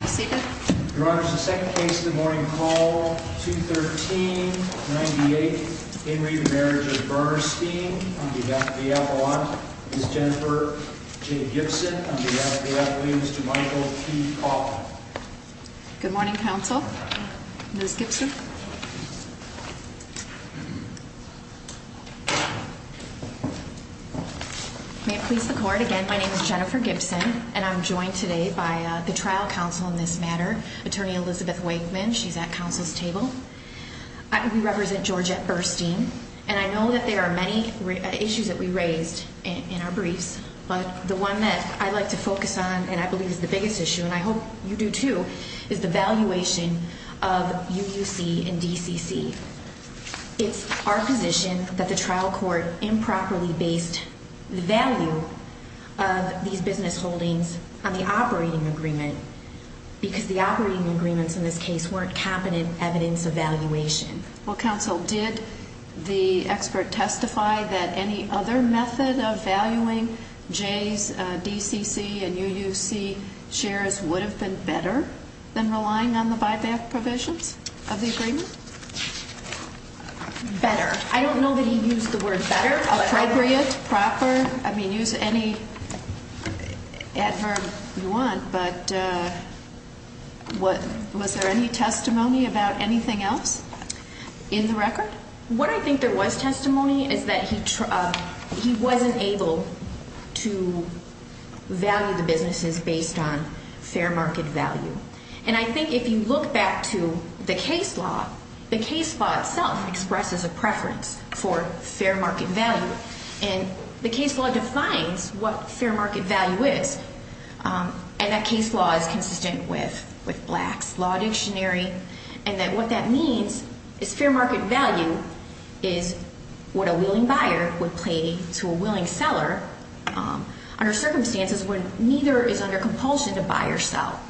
on behalf of the appellant, Ms. Jennifer J. Gibson, on behalf of the appellant, Mr. Michael T. Coffin. Good morning, counsel. Ms. Gibson. Thank you. May it please the court, again, my name is Jennifer Gibson, and I'm joined today by the trial counsel in this matter, Attorney Elizabeth Wakeman. She's at counsel's table. We represent Georgia at Burstein, and I know that there are many issues that we raised in our briefs, but the one that I'd like to focus on and I believe is the biggest issue, and I hope you do too, is the valuation of U.U.C. and D.C.C. It's our position that the trial court improperly based the value of these business holdings on the operating agreement, because the operating agreements in this case weren't competent evidence of valuation. Well, counsel, did the expert testify that any other method of valuing J's D.C.C. and U.U.C. shares would have been better than relying on the buyback provisions of the agreement? Better. I don't know that he used the word better, appropriate, proper. I mean, use any adverb you want, but was there any testimony about anything else in the record? What I think there was testimony is that he wasn't able to value the businesses based on fair market value. And I think if you look back to the case law, the case law itself expresses a preference for fair market value, and the case law defines what fair market value is. And that case law is consistent with Black's Law Dictionary, and what that means is fair market value is what a willing buyer would pay to a willing seller under circumstances when neither is under compulsion to buy or sell.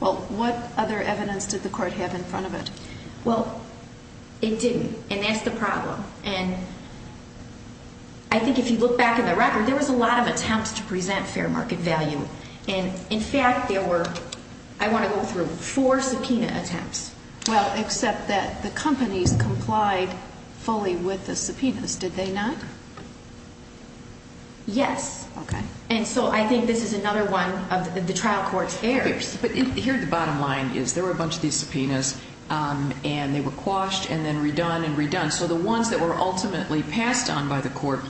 Well, what other evidence did the court have in front of it? Well, it didn't, and that's the problem. And I think if you look back in the record, there was a lot of attempts to present fair market value. And in fact, there were, I want to go through, four subpoena attempts. Well, except that the companies complied fully with the subpoenas, did they not? Yes. Okay. And so I think this is another one of the trial court's errors. But here the bottom line is there were a bunch of these subpoenas, and they were quashed and then redone and redone. So the ones that were ultimately passed on by the court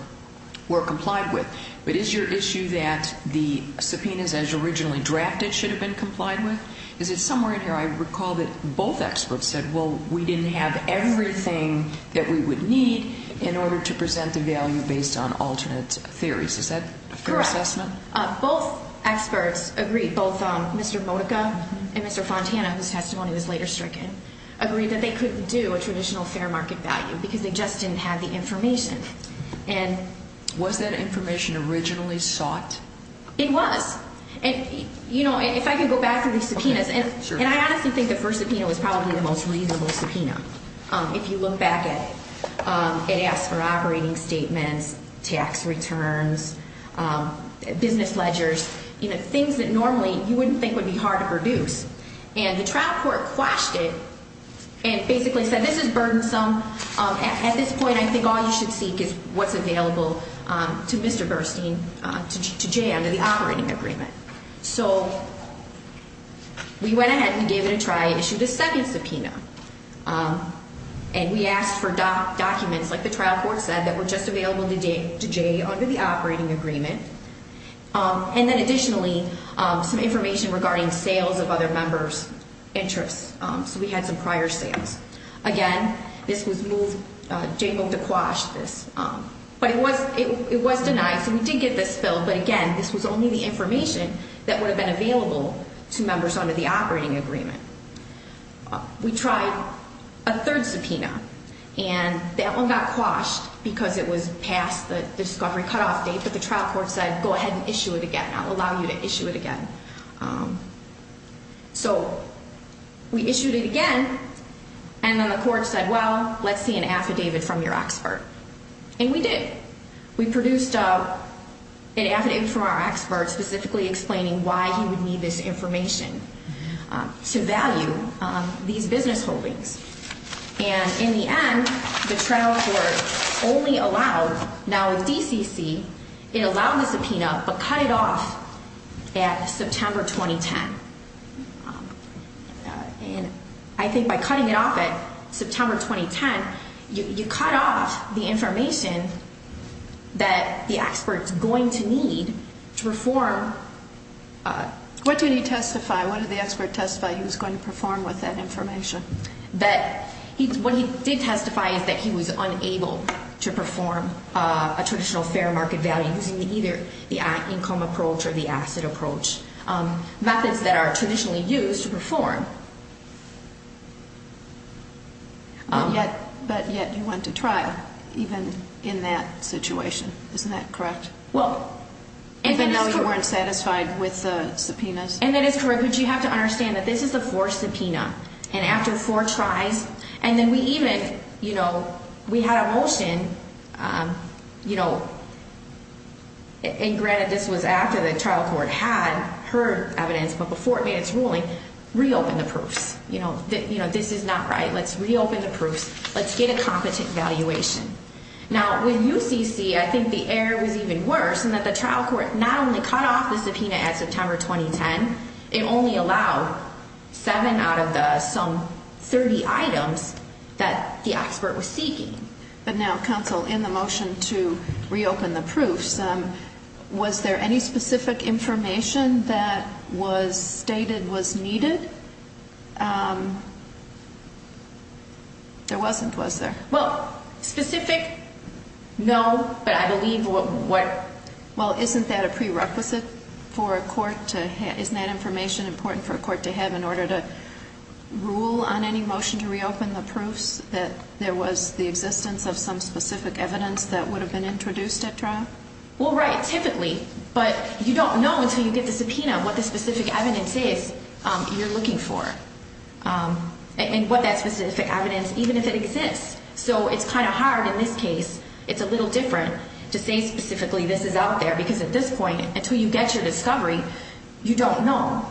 were complied with. But is your issue that the subpoenas as originally drafted should have been complied with? Is it somewhere in here I recall that both experts said, well, we didn't have everything that we would need in order to present the value based on alternate theories. Is that a fair assessment? Correct. Both experts agreed, both Mr. Modica and Mr. Fontana, whose testimony was later stricken, agreed that they couldn't do a traditional fair market value because they just didn't have the information. Was that information originally sought? It was. And, you know, if I can go back to these subpoenas, and I honestly think the first subpoena was probably the most reasonable subpoena. If you look back at it, it asks for operating statements, tax returns, business ledgers, you know, things that normally you wouldn't think would be hard to produce. And the trial court quashed it and basically said this is burdensome. At this point, I think all you should seek is what's available to Mr. Gerstein, to Jay, under the operating agreement. So we went ahead and gave it a try, issued a second subpoena. And we asked for documents, like the trial court said, that were just available to Jay under the operating agreement. And then additionally, some information regarding sales of other members' interests. So we had some prior sales. Again, this was moved, Jay moved to quash this. But it was denied, so we did get this filled. But again, this was only the information that would have been available to members under the operating agreement. We tried a third subpoena, and that one got quashed because it was past the discovery cutoff date. But the trial court said, go ahead and issue it again. I'll allow you to issue it again. So we issued it again, and then the court said, well, let's see an affidavit from your expert. And we did. We produced an affidavit from our expert specifically explaining why he would need this information to value these business holdings. And in the end, the trial court only allowed, now with DCC, it allowed the subpoena, but cut it off at September 2010. And I think by cutting it off at September 2010, you cut off the information that the expert's going to need to perform. What did he testify? What did the expert testify he was going to perform with that information? What he did testify is that he was unable to perform a traditional fair market value using either the income approach or the asset approach, methods that are traditionally used to perform. But yet you went to trial, even in that situation. Isn't that correct? Well, and that is correct. Even though you weren't satisfied with the subpoenas? And that is correct. But you have to understand that this is a forced subpoena. And after four tries, and then we even, you know, we had a motion, you know, and granted this was after the trial court had heard evidence, but before it made its ruling, reopen the proofs. You know, this is not right. Let's reopen the proofs. Let's get a competent valuation. Now, with UCC, I think the error was even worse in that the trial court not only cut off the subpoena at September 2010, it only allowed seven out of the some 30 items that the expert was seeking. But now, counsel, in the motion to reopen the proofs, was there any specific information that was stated was needed? There wasn't, was there? Well, specific, no. But I believe what – Well, isn't that a prerequisite for a court to – isn't that information important for a court to have in order to rule on any motion to reopen the proofs that there was the existence of some specific evidence that would have been introduced at trial? Well, right. Typically. But you don't know until you get the subpoena what the specific evidence is you're looking for. And what that specific evidence – even if it exists. So it's kind of hard in this case. It's a little different to say specifically this is out there because at this point, until you get your discovery, you don't know.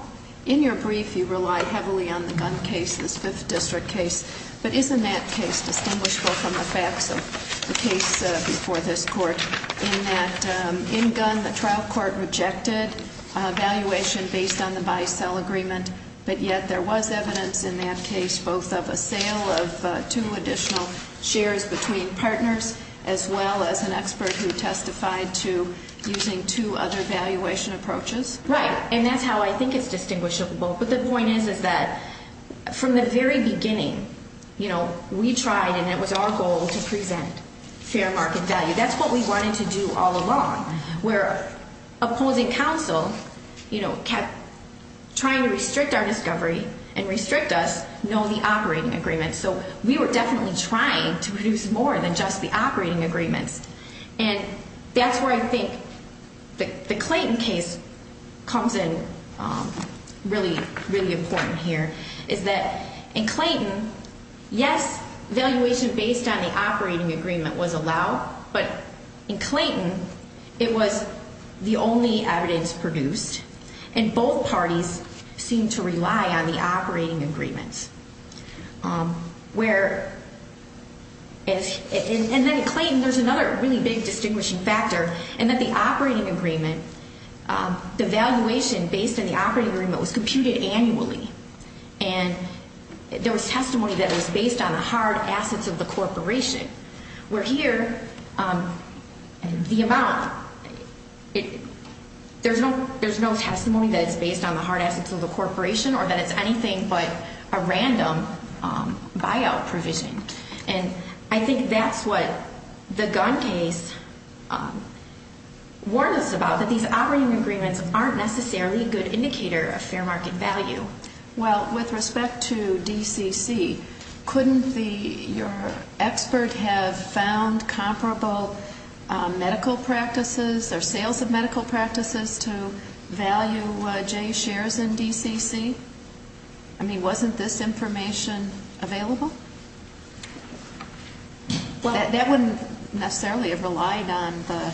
In your brief, you relied heavily on the Gunn case, this Fifth District case. But isn't that case distinguishable from the facts of the case before this court in that in Gunn, the trial court rejected valuation based on the buy-sell agreement, but yet there was evidence in that case both of a sale of two additional shares between partners as well as an expert who testified to using two other valuation approaches? Right. And that's how I think it's distinguishable. But the point is, is that from the very beginning, you know, we tried and it was our goal to present fair market value. That's what we wanted to do all along. Where opposing counsel, you know, kept trying to restrict our discovery and restrict us, no, the operating agreement. So we were definitely trying to produce more than just the operating agreements. And that's where I think the Clayton case comes in really, really important here is that in Clayton, yes, valuation based on the operating agreement was allowed. But in Clayton, it was the only evidence produced. And both parties seemed to rely on the operating agreements. Where, and then in Clayton there's another really big distinguishing factor in that the operating agreement, the valuation based on the operating agreement was computed annually. And there was testimony that it was based on the hard assets of the corporation. Where here, the amount, there's no testimony that it's based on the hard assets of the corporation or that it's anything but a random buyout provision. And I think that's what the Gunn case warned us about, that these operating agreements aren't necessarily a good indicator of fair market value. Well, with respect to DCC, couldn't the, your expert have found comparable medical practices or sales of medical practices to value J shares in DCC? I mean, wasn't this information available? That wouldn't necessarily have relied on the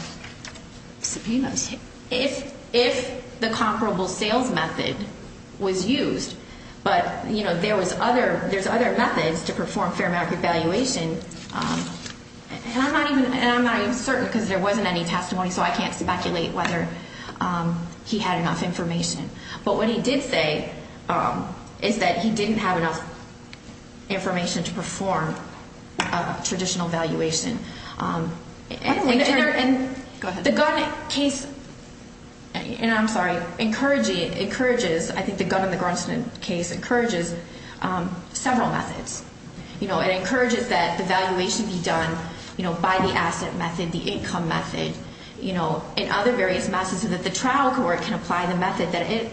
subpoenas. If the comparable sales method was used, but there was other, there's other methods to perform fair market valuation. And I'm not even certain because there wasn't any testimony, so I can't speculate whether he had enough information. But what he did say is that he didn't have enough information to perform a traditional valuation. And the Gunn case, and I'm sorry, encourages, I think the Gunn and the Grunston case encourages several methods. You know, it encourages that the valuation be done, you know, by the asset method, the income method. You know, and other various methods so that the trial court can apply the method that it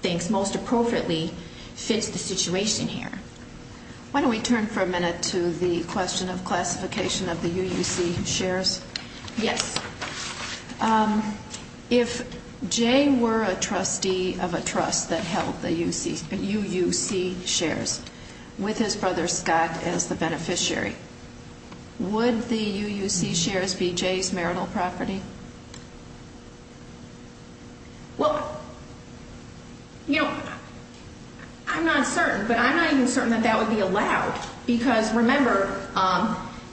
thinks most appropriately fits the situation here. Why don't we turn for a minute to the question of classification of the UUC shares? Yes. If Jay were a trustee of a trust that held the UUC shares with his brother Scott as the beneficiary, would the UUC shares be Jay's marital property? Well, you know, I'm not certain, but I'm not even certain that that would be allowed. Because remember,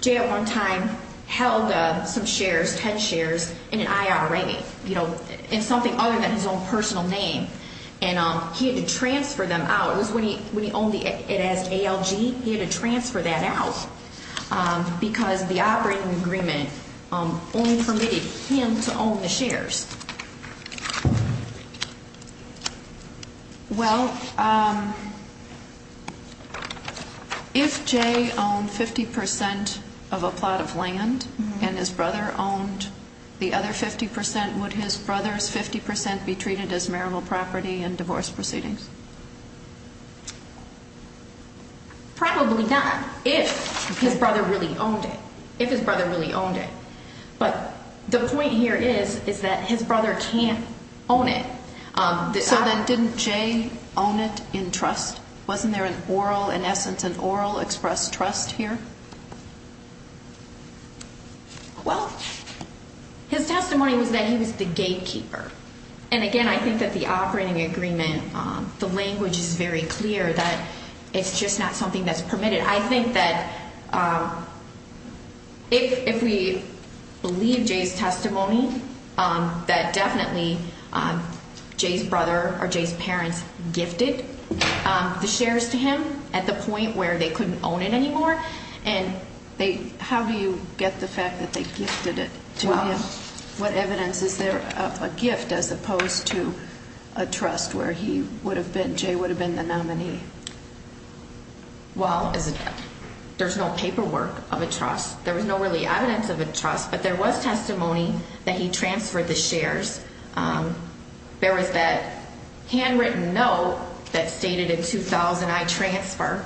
Jay at one time held some shares, 10 shares, in an IRA, you know, in something other than his own personal name. And he had to transfer them out. It was when he owned it as ALG, he had to transfer that out. Because the operating agreement only permitted him to own the shares. Well, if Jay owned 50 percent of a plot of land and his brother owned the other 50 percent, would his brother's 50 percent be treated as marital property in divorce proceedings? Probably not, if his brother really owned it. If his brother really owned it. But the point here is, is that his brother can't own it. So then didn't Jay own it in trust? Wasn't there an oral, in essence, an oral expressed trust here? Well, his testimony was that he was the gatekeeper. And again, I think that the operating agreement, the language is very clear that it's just not something that's permitted. I think that if we believe Jay's testimony, that definitely Jay's brother or Jay's parents gifted the shares to him at the point where they couldn't own it anymore. And how do you get the fact that they gifted it to him? What evidence is there of a gift as opposed to a trust where he would have been, Jay would have been the nominee? Well, there's no paperwork of a trust. There was no really evidence of a trust. But there was testimony that he transferred the shares. There was that handwritten note that stated in 2000, I transfer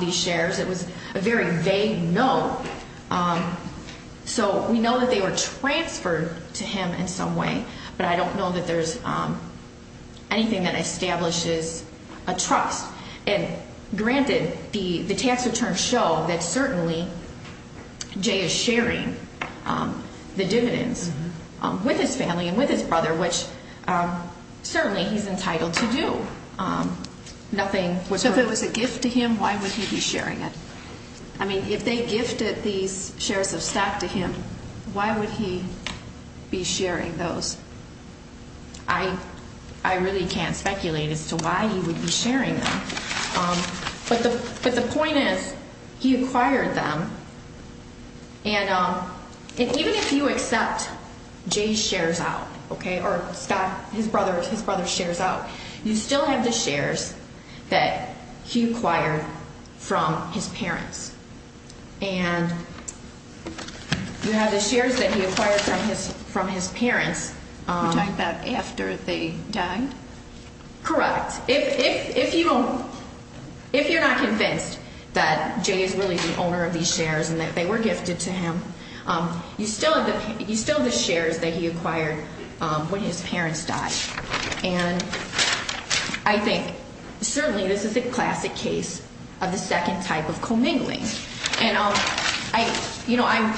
these shares. It was a very vague note. So we know that they were transferred to him in some way. But I don't know that there's anything that establishes a trust. And granted, the tax returns show that certainly Jay is sharing the dividends with his family and with his brother, which certainly he's entitled to do. So if it was a gift to him, why would he be sharing it? I mean, if they gifted these shares of stock to him, why would he be sharing those? I really can't speculate as to why he would be sharing them. But the point is, he acquired them. And even if you accept Jay's shares out, okay, or Scott, his brother's shares out, you still have the shares that he acquired from his parents. And you have the shares that he acquired from his parents. You're talking about after they died? Correct. If you're not convinced that Jay is really the owner of these shares and that they were gifted to him, you still have the shares that he acquired when his parents died. And I think certainly this is a classic case of the second type of commingling. And, you know, I'm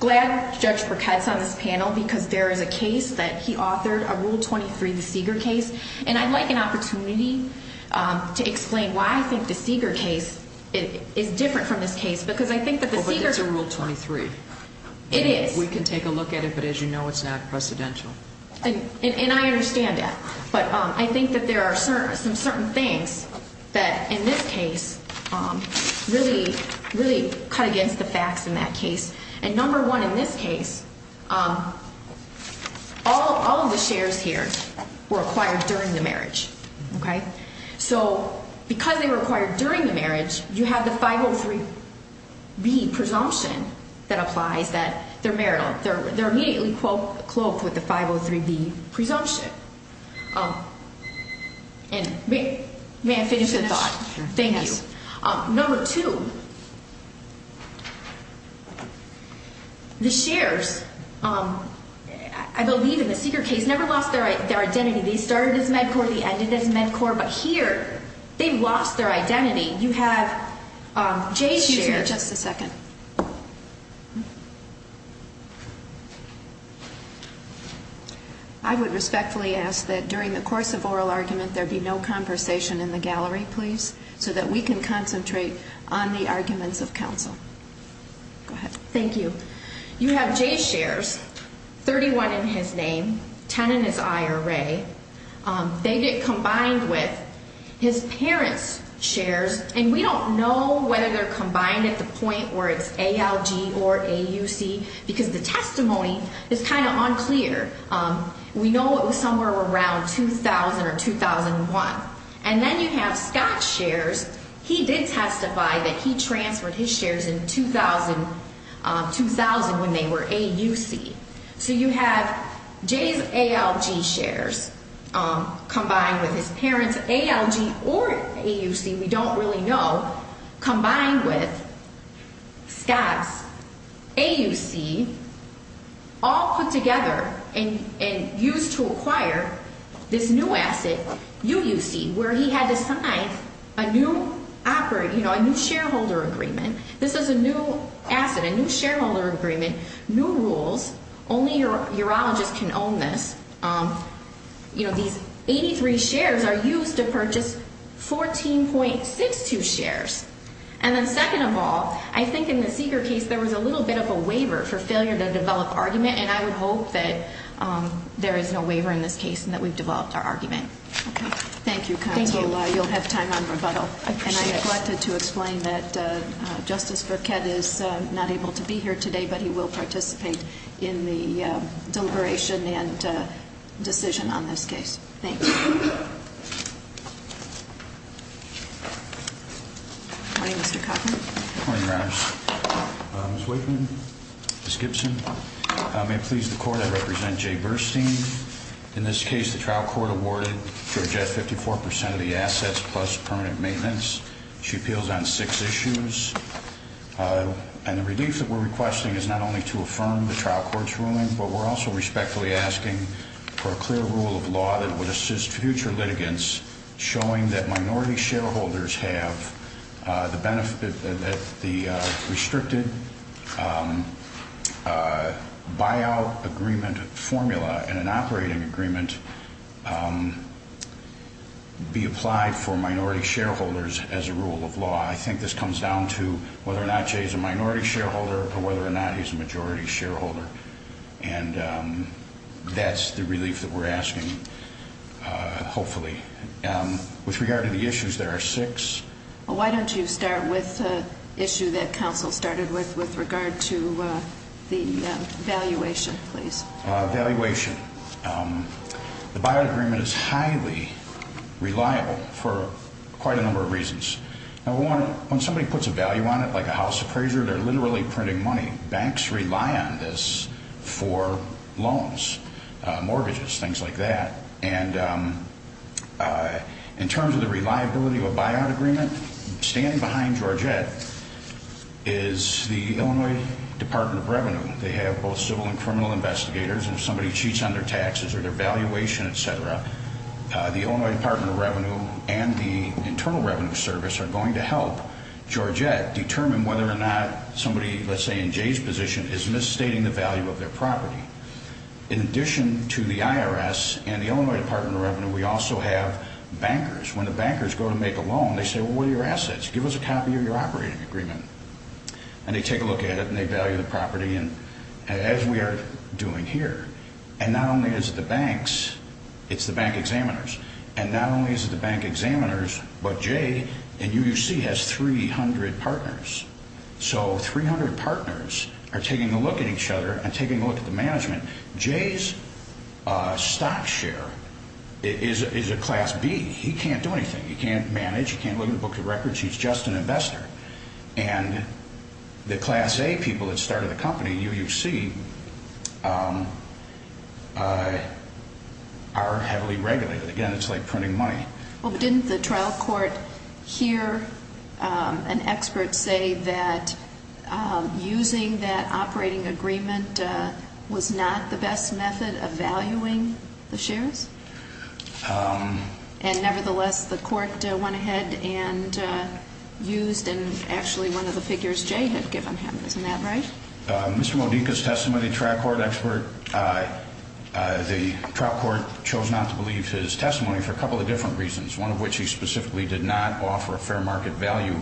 glad Judge Burkett's on this panel because there is a case that he authored, a Rule 23, the Seeger case. And I'd like an opportunity to explain why I think the Seeger case is different from this case. Because I think that the Seeger case – Well, but it's a Rule 23. It is. We can take a look at it, but as you know, it's not precedential. And I understand that. But I think that there are some certain things that in this case really cut against the facts in that case. And number one in this case, all of the shares here were acquired during the marriage, okay? So because they were acquired during the marriage, you have the 503B presumption that applies that they're marital. They're immediately cloaked with the 503B presumption. And may I finish the thought? Sure. Thank you. Number two, the shares, I believe in the Seeger case, never lost their identity. They started as MedCorp. They ended as MedCorp. But here, they lost their identity. You have Jay's shares. Excuse me just a second. I would respectfully ask that during the course of oral argument, there be no conversation in the gallery, please, so that we can concentrate on the arguments of counsel. Go ahead. Thank you. You have Jay's shares, 31 in his name, 10 in his IRA. They get combined with his parents' shares, and we don't know whether they're combined at the point where it's ALG or AUC because the testimony is kind of unclear. We know it was somewhere around 2000 or 2001. And then you have Scott's shares. He did testify that he transferred his shares in 2000 when they were AUC. So you have Jay's ALG shares combined with his parents' ALG or AUC, we don't really know, combined with Scott's AUC, all put together and used to acquire this new asset, UUC, where he had to sign a new shareholder agreement. This is a new asset, a new shareholder agreement, new rules. Only urologists can own this. These 83 shares are used to purchase 14.62 shares. And then second of all, I think in the Seeger case there was a little bit of a waiver for failure to develop argument, and I would hope that there is no waiver in this case and that we've developed our argument. Thank you, counsel. You'll have time on rebuttal. I appreciate it. I wanted to explain that Justice Burkett is not able to be here today, but he will participate in the deliberation and decision on this case. Thank you. Good morning, Mr. Kaufman. Good morning, Your Honors. Ms. Wakeman, Ms. Gibson, may it please the Court, I represent Jay Burstein. In this case, the trial court awarded Georgia 54% of the assets plus permanent maintenance. She appeals on six issues. And the relief that we're requesting is not only to affirm the trial court's ruling, but we're also respectfully asking for a clear rule of law that would assist future litigants, showing that minority shareholders have the restricted buyout agreement formula and an operating agreement be applied for minority shareholders as a rule of law. I think this comes down to whether or not Jay is a minority shareholder or whether or not he's a majority shareholder. And that's the relief that we're asking, hopefully. With regard to the issues, there are six. Why don't you start with the issue that counsel started with with regard to the valuation, please. Valuation. The buyout agreement is highly reliable for quite a number of reasons. When somebody puts a value on it, like a house appraiser, they're literally printing money. Banks rely on this for loans, mortgages, things like that. And in terms of the reliability of a buyout agreement, standing behind Georgette is the Illinois Department of Revenue. They have both civil and criminal investigators. If somebody cheats on their taxes or their valuation, et cetera, the Illinois Department of Revenue and the Internal Revenue Service are going to help Georgette determine whether or not somebody, let's say in Jay's position, is misstating the value of their property. In addition to the IRS and the Illinois Department of Revenue, we also have bankers. When the bankers go to make a loan, they say, well, what are your assets? Give us a copy of your operating agreement. And they take a look at it and they value the property, as we are doing here. And not only is it the banks, it's the bank examiners. And not only is it the bank examiners, but Jay in UUC has 300 partners. So 300 partners are taking a look at each other and taking a look at the management. Jay's stock share is a Class B. He can't do anything. He can't manage. He can't look at a book of records. He's just an investor. And the Class A people that started the company in UUC are heavily regulated. Again, it's like printing money. Well, didn't the trial court hear an expert say that using that operating agreement was not the best method of valuing the shares? And nevertheless, the court went ahead and used actually one of the figures Jay had given him. Isn't that right? Mr. Modica's testimony, trial court expert, the trial court chose not to believe his testimony for a couple of different reasons, one of which he specifically did not offer a fair market value.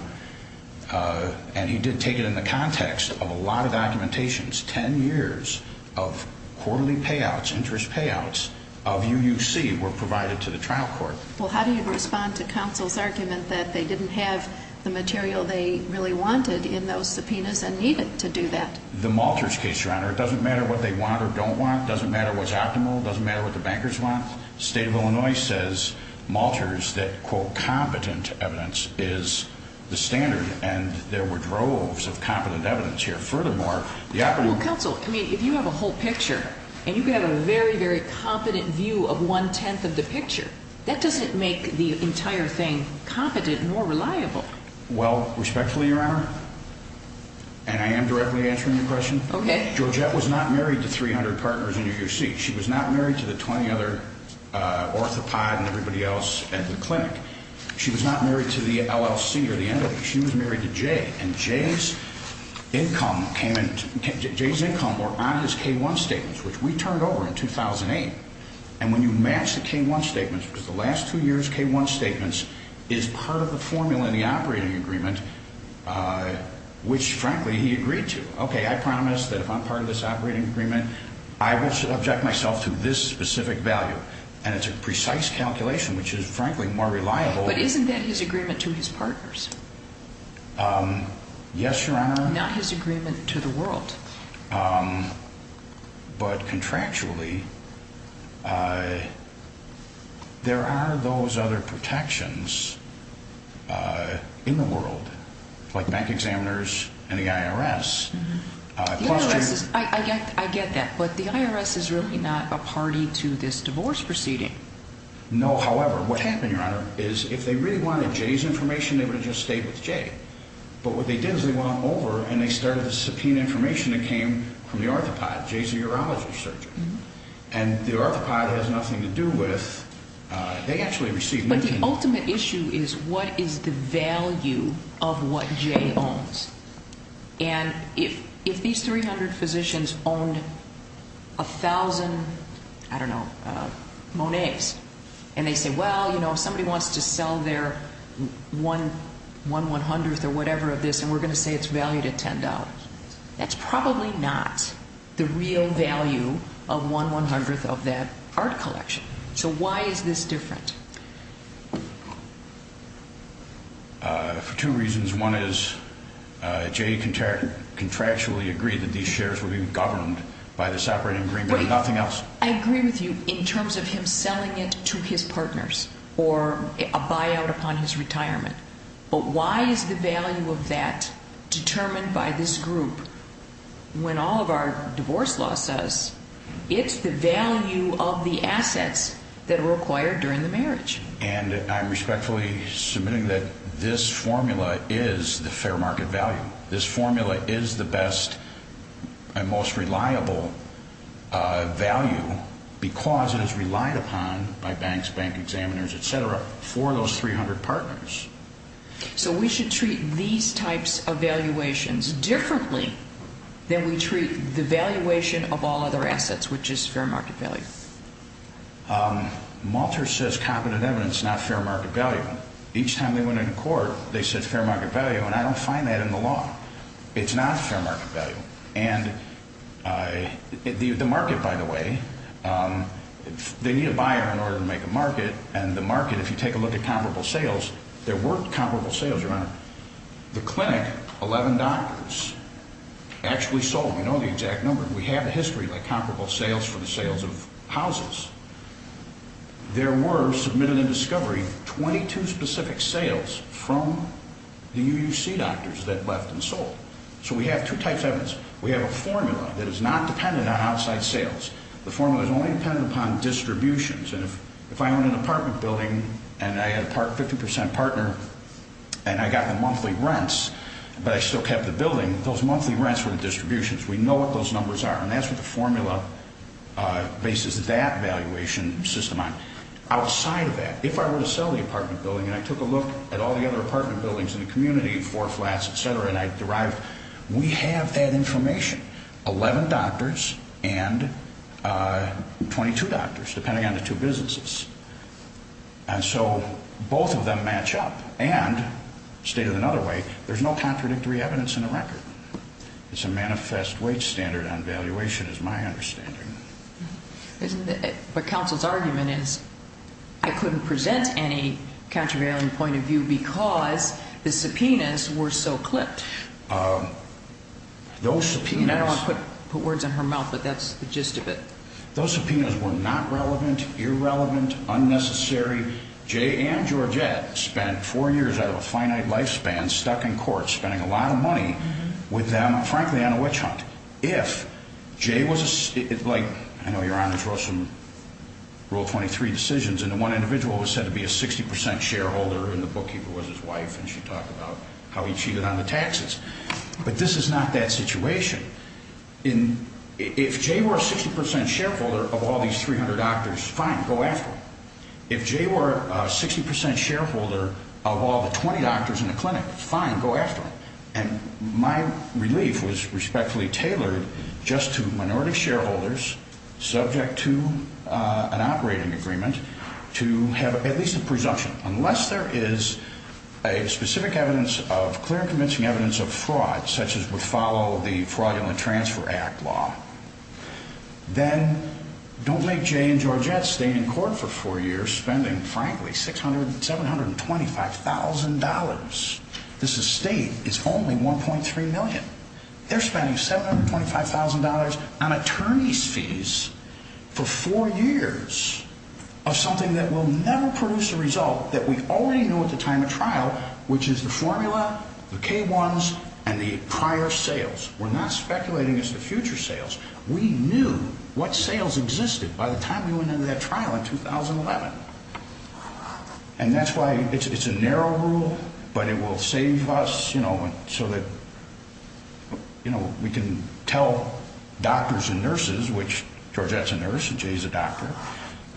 And he did take it in the context of a lot of documentations. Ten years of quarterly payouts, interest payouts of UUC were provided to the trial court. Well, how do you respond to counsel's argument that they didn't have the material they really wanted in those subpoenas and needed to do that? The Malters case, Your Honor, it doesn't matter what they want or don't want. It doesn't matter what's optimal. It doesn't matter what the bankers want. The state of Illinois says, Malters, that, quote, competent evidence is the standard. And there were droves of competent evidence here. Furthermore, the operating ---- Well, counsel, I mean, if you have a whole picture and you can have a very, very competent view of one-tenth of the picture, that doesn't make the entire thing competent nor reliable. Well, respectfully, Your Honor, and I am directly answering your question. Okay. Georgette was not married to 300 partners in UUC. She was not married to the 20 other orthopods and everybody else at the clinic. She was not married to the LLC or the MWC. She was married to Jay. And Jay's income came in ---- Jay's income were on his K-1 statements, which we turned over in 2008. And when you match the K-1 statements, because the last two years' K-1 statements is part of the formula in the operating agreement, which, frankly, he agreed to. Okay, I promise that if I'm part of this operating agreement, I will subject myself to this specific value. And it's a precise calculation, which is, frankly, more reliable. But isn't that his agreement to his partners? Yes, Your Honor. Not his agreement to the world. But contractually, there are those other protections in the world, like bank examiners and the IRS. The IRS is ---- I get that. But the IRS is really not a party to this divorce proceeding. No, however, what happened, Your Honor, is if they really wanted Jay's information, they would have just stayed with Jay. But what they did is they went on over and they started to subpoena information that came from the Arthropod, Jay's urology surgeon. And the Arthropod has nothing to do with ---- they actually received ---- But the ultimate issue is what is the value of what Jay owns? And if these 300 physicians owned 1,000, I don't know, Monets, and they say, well, you know, if somebody wants to sell their 1, 100th or whatever of this, and we're going to say it's valued at $10, that's probably not the real value of 1, 100th of that art collection. So why is this different? For two reasons. One is Jay contractually agreed that these shares would be governed by this operating agreement and nothing else. I agree with you in terms of him selling it to his partners or a buyout upon his retirement. But why is the value of that determined by this group when all of our divorce law says it's the value of the assets that are acquired during the marriage? And I'm respectfully submitting that this formula is the fair market value. This formula is the best and most reliable value because it is relied upon by banks, bank examiners, et cetera, for those 300 partners. So we should treat these types of valuations differently than we treat the valuation of all other assets, which is fair market value. Malter says competent evidence, not fair market value. Each time they went into court, they said fair market value, and I don't find that in the law. It's not fair market value. And the market, by the way, they need a buyer in order to make a market, and the market, if you take a look at comparable sales, there were comparable sales. The clinic, 11 doctors actually sold. We know the exact number. We have a history of comparable sales for the sales of houses. There were submitted in discovery 22 specific sales from the UUC doctors that left and sold. So we have two types of evidence. We have a formula that is not dependent on outside sales. The formula is only dependent upon distributions. And if I own an apartment building and I had a 50 percent partner and I got the monthly rents but I still kept the building, those monthly rents were the distributions. We know what those numbers are, and that's what the formula bases that value on. Outside of that, if I were to sell the apartment building and I took a look at all the other apartment buildings in the community, four flats, et cetera, and I derived, we have that information. 11 doctors and 22 doctors, depending on the two businesses. And so both of them match up. And, stated another way, there's no contradictory evidence in the record. It's a manifest wage standard on valuation is my understanding. But counsel's argument is I couldn't present any countervailing point of view because the subpoenas were so clipped. Those subpoenas. I don't want to put words in her mouth, but that's the gist of it. Those subpoenas were not relevant, irrelevant, unnecessary. Jay and Georgette spent four years out of a finite lifespan stuck in court spending a lot of money with them, frankly, on a witch hunt. If Jay was like, I know your honors wrote some rule 23 decisions, and the one individual was said to be a 60% shareholder, and the bookkeeper was his wife, and she talked about how he cheated on the taxes. But this is not that situation. If Jay were a 60% shareholder of all these 300 doctors, fine, go after him. If Jay were a 60% shareholder of all the 20 doctors in the clinic, fine, go after him. And my relief was respectfully tailored just to minority shareholders subject to an operating agreement to have at least a presumption. Unless there is a specific evidence of clear and convincing evidence of fraud, such as would follow the Fraud and Transfer Act law, then don't make Jay and Georgette stay in court for four years spending, frankly, $625,000. This estate is only $1.3 million. They're spending $725,000 on attorney's fees for four years of something that will never produce a result that we already knew at the time of trial, which is the formula, the K1s, and the prior sales. We're not speculating it's the future sales. We knew what sales existed by the time we went into that trial in 2011. And that's why it's a narrow rule, but it will save us so that we can tell doctors and nurses, which Georgette's a nurse and Jay's a doctor,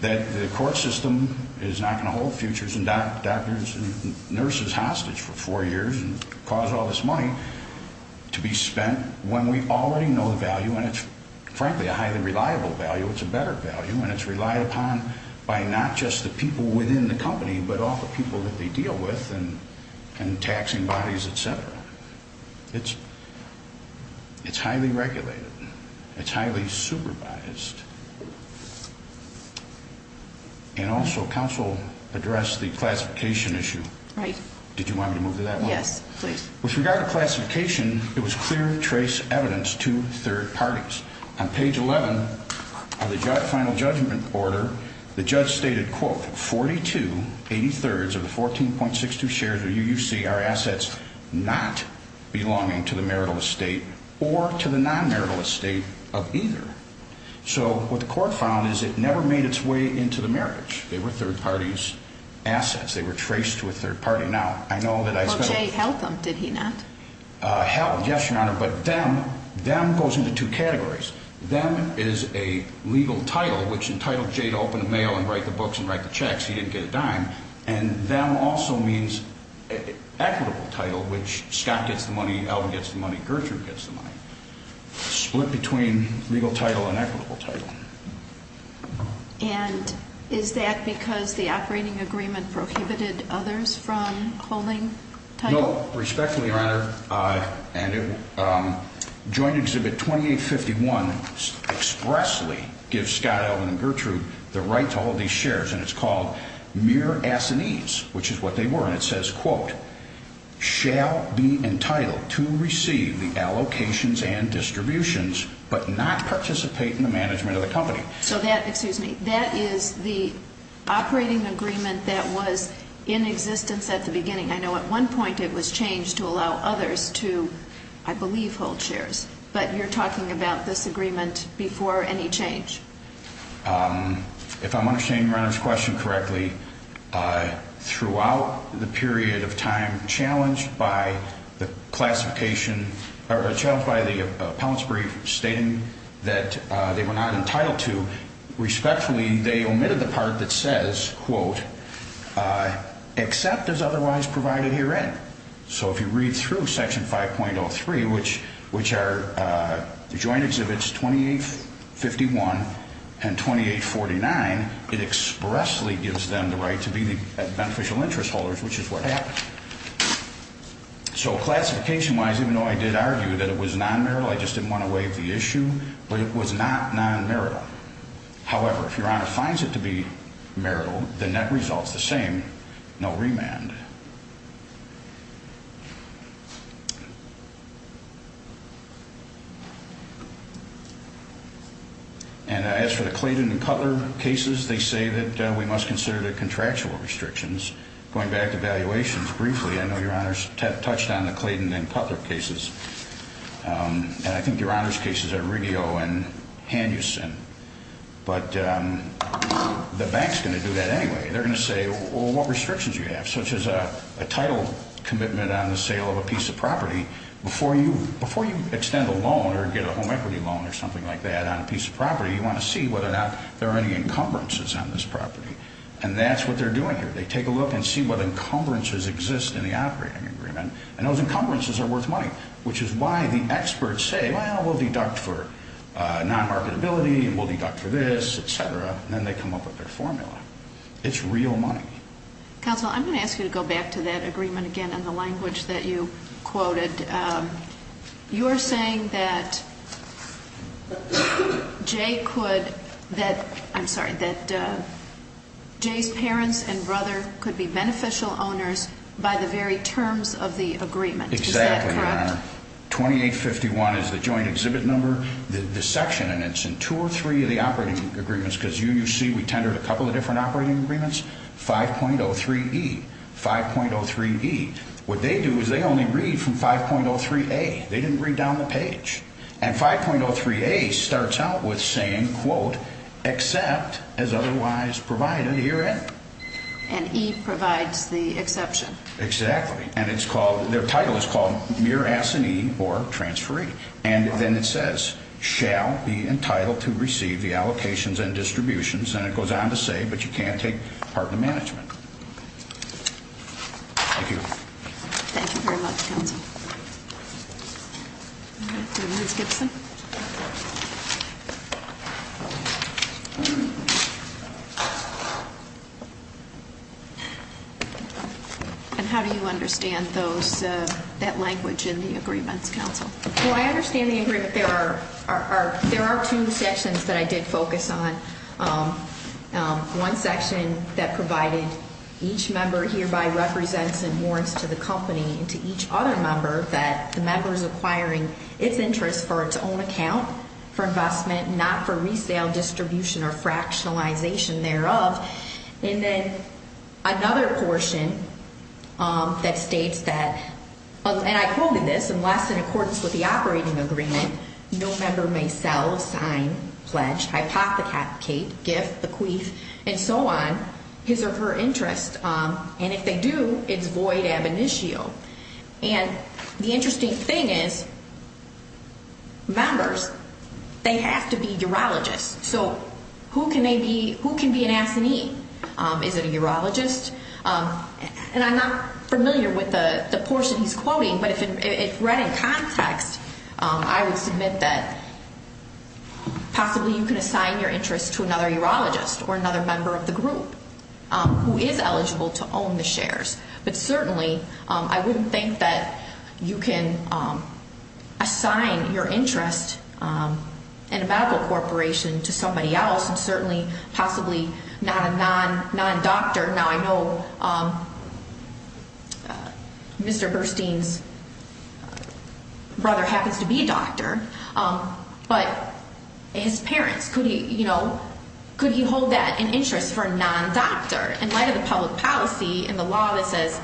that the court system is not going to hold futures and doctors and nurses hostage for four years and cause all this money to be spent when we already know the value. And it's, frankly, a highly reliable value. It's a better value. And it's relied upon by not just the people within the company, but all the people that they deal with and taxing bodies, et cetera. It's highly regulated. It's highly supervised. And also, counsel addressed the classification issue. Right. Did you want me to move to that one? Yes, please. With regard to classification, it was clear trace evidence to third parties. On page 11 of the final judgment order, the judge stated, quote, 42, 80 thirds of the 14.62 shares of UUC are assets not belonging to the marital estate or to the non-marital estate of either. So what the court found is it never made its way into the marriage. They were third parties' assets. They were traced to a third party. Well, Jay held them, did he not? Yes, Your Honor. But them goes into two categories. Them is a legal title, which entitled Jay to open the mail and write the books and write the checks. He didn't get a dime. And them also means equitable title, which Scott gets the money, Alvin gets the money, Gertrude gets the money. Split between legal title and equitable title. And is that because the operating agreement prohibited others from holding title? No. Respectfully, Your Honor, joint exhibit 2851 expressly gives Scott, Alvin, and Gertrude the right to hold these shares, and it's called mere assinees, which is what they were. And it says, quote, shall be entitled to receive the allocations and distributions but not participate in the management of the company. So that, excuse me, that is the operating agreement that was in existence at the beginning. I know at one point it was changed to allow others to, I believe, hold shares. But you're talking about this agreement before any change. If I'm understanding Your Honor's question correctly, throughout the period of time challenged by the classification or challenged by the appellant's brief stating that they were not entitled to, respectfully, they omitted the part that says, quote, except as otherwise provided herein. So if you read through Section 5.03, which are joint exhibits 2851 and 2849, it expressly gives them the right to be beneficial interest holders, which is what happened. So classification-wise, even though I did argue that it was non-marital, I just didn't want to waive the issue, but it was not non-marital. However, if Your Honor finds it to be marital, the net result's the same, no remand. And as for the Clayton and Cutler cases, they say that we must consider the contractual restrictions. Going back to valuations briefly, I know Your Honor's touched on the Clayton and Cutler cases, and I think Your Honor's cases are Riggio and Hanuson. But the bank's going to do that anyway. They're going to say, well, what restrictions do you have? Such as a title commitment on the sale of a piece of property. Before you extend a loan or get a home equity loan or something like that on a piece of property, you want to see whether or not there are any encumbrances on this property. And that's what they're doing here. They take a look and see what encumbrances exist in the operating agreement, and those encumbrances are worth money. Which is why the experts say, well, we'll deduct for non-marketability and we'll deduct for this, et cetera. And then they come up with their formula. It's real money. Counsel, I'm going to ask you to go back to that agreement again in the language that you quoted. You're saying that Jay could, that, I'm sorry, that Jay's parents and brother could be beneficial owners by the very terms of the agreement. Is that correct? Exactly, Your Honor. 2851 is the joint exhibit number, the section, and it's in two or three of the operating agreements. Because you see we tendered a couple of different operating agreements. 5.03E, 5.03E. What they do is they only read from 5.03A. They didn't read down the page. And 5.03A starts out with saying, quote, except as otherwise provided herein. And E provides the exception. Exactly. And it's called, their title is called mere assignee or transferee. And then it says, shall be entitled to receive the allocations and distributions. And it goes on to say, but you can't take part in the management. Thank you. Thank you very much, Counsel. Ms. Gibson. And how do you understand those, that language in the agreements, Counsel? Well, I understand the agreement. There are two sections that I did focus on. One section that provided each member hereby represents and warrants to the company and to each other member that the member is acquiring its interest for its own benefit. For investment, not for resale, distribution, or fractionalization thereof. And then another portion that states that, and I quoted this, unless in accordance with the operating agreement, no member may sell, sign, pledge, hypothecate, give, acquiesce, and so on, his or her interest. And if they do, it's void ab initio. And the interesting thing is, members, they have to be urologists. So who can be an assignee? Is it a urologist? And I'm not familiar with the portion he's quoting, but if read in context, I would submit that possibly you can assign your interest to another urologist or another member of the group who is eligible to own the shares. But certainly I wouldn't think that you can assign your interest in a medical corporation to somebody else and certainly possibly not a non-doctor. Now, I know Mr. Burstein's brother happens to be a doctor, but his parents. Could he, you know, could he hold that in interest for a non-doctor? In light of the public policy and the law that says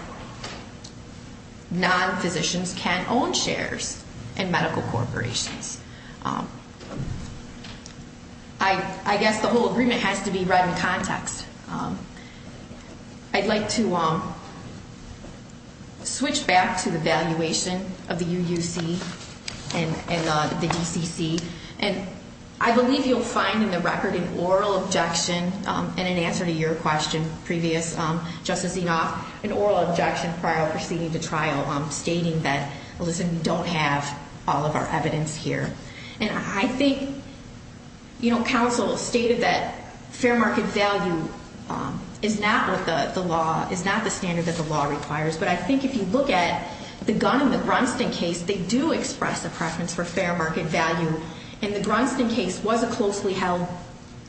non-physicians can own shares in medical corporations, I guess the whole agreement has to be read in context. I'd like to switch back to the valuation of the UUC and the DCC, and I believe you'll find in the record an oral objection and in answer to your question previous, Justice Enoff, an oral objection prior proceeding to trial stating that, listen, we don't have all of our evidence here. And I think, you know, counsel stated that fair market value is not the standard that the law requires, but I think if you look at the Gunn and the Grunston case, they do express a preference for fair market value. And the Grunston case was a closely held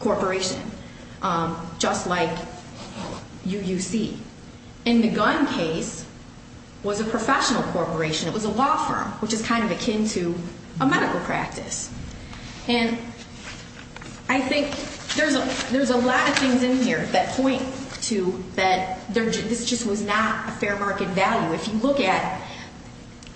corporation, just like UUC. And the Gunn case was a professional corporation. It was a law firm, which is kind of akin to a medical practice. And I think there's a lot of things in here that point to that this just was not a fair market value. If you look at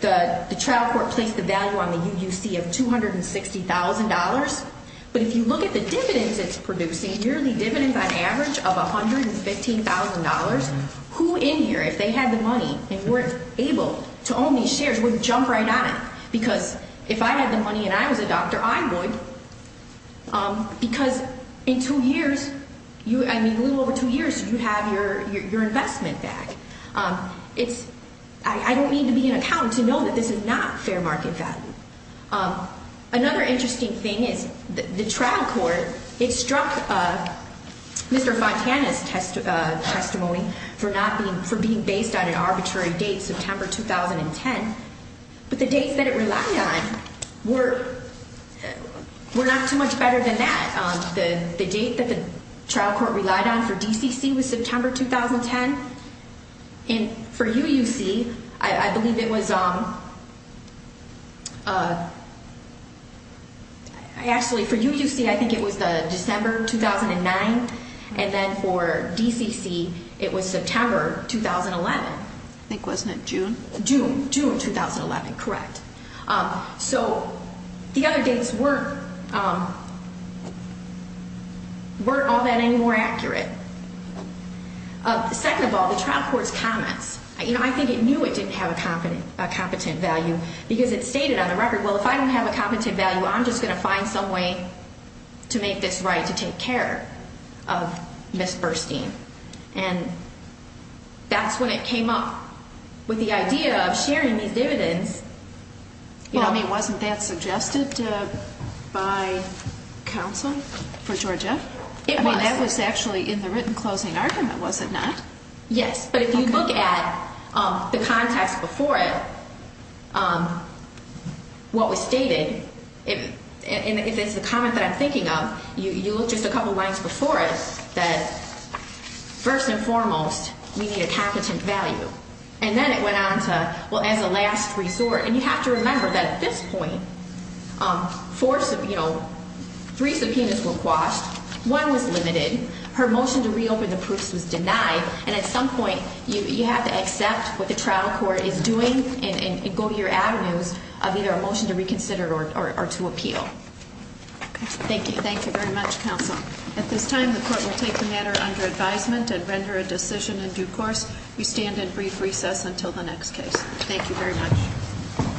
the trial court placed the value on the UUC of $260,000, but if you look at the dividends it's producing, yearly dividends on average of $115,000, who in here, if they had the money and weren't able to own these shares, would jump right on it? Because if I had the money and I was a doctor, I would. Because in two years, I mean a little over two years, you have your investment back. I don't need to be an accountant to know that this is not fair market value. Another interesting thing is the trial court, it struck Mr. Fontana's testimony for being based on an arbitrary date, September 2010. But the dates that it relied on were not too much better than that. The date that the trial court relied on for DCC was September 2010. And for UUC, I believe it was actually for UUC, I think it was December 2009. And then for DCC, it was September 2011. I think, wasn't it June? June, June 2011, correct. So the other dates weren't all that any more accurate. Second of all, the trial court's comments, you know, I think it knew it didn't have a competent value because it stated on the record, well, if I don't have a competent value, I'm just going to find some way to make this right to take care of Ms. Burstein. And that's when it came up with the idea of sharing these dividends. Well, I mean, wasn't that suggested by counsel for Georgia? It was. I mean, that was actually in the written closing argument, was it not? Yes, but if you look at the context before it, what was stated, and if it's the comment that I'm thinking of, you look just a couple of lines before it, that first and foremost, we need a competent value. And then it went on to, well, as a last resort, and you have to remember that at this point, three subpoenas were quashed, one was limited, her motion to reopen the proofs was denied, and at some point, you have to accept what the trial court is doing and go to your avenues of either a motion to reconsider or to appeal. Thank you. Thank you very much, counsel. At this time, the court will take the matter under advisement and render a decision in due course. We stand in brief recess until the next case. Thank you very much.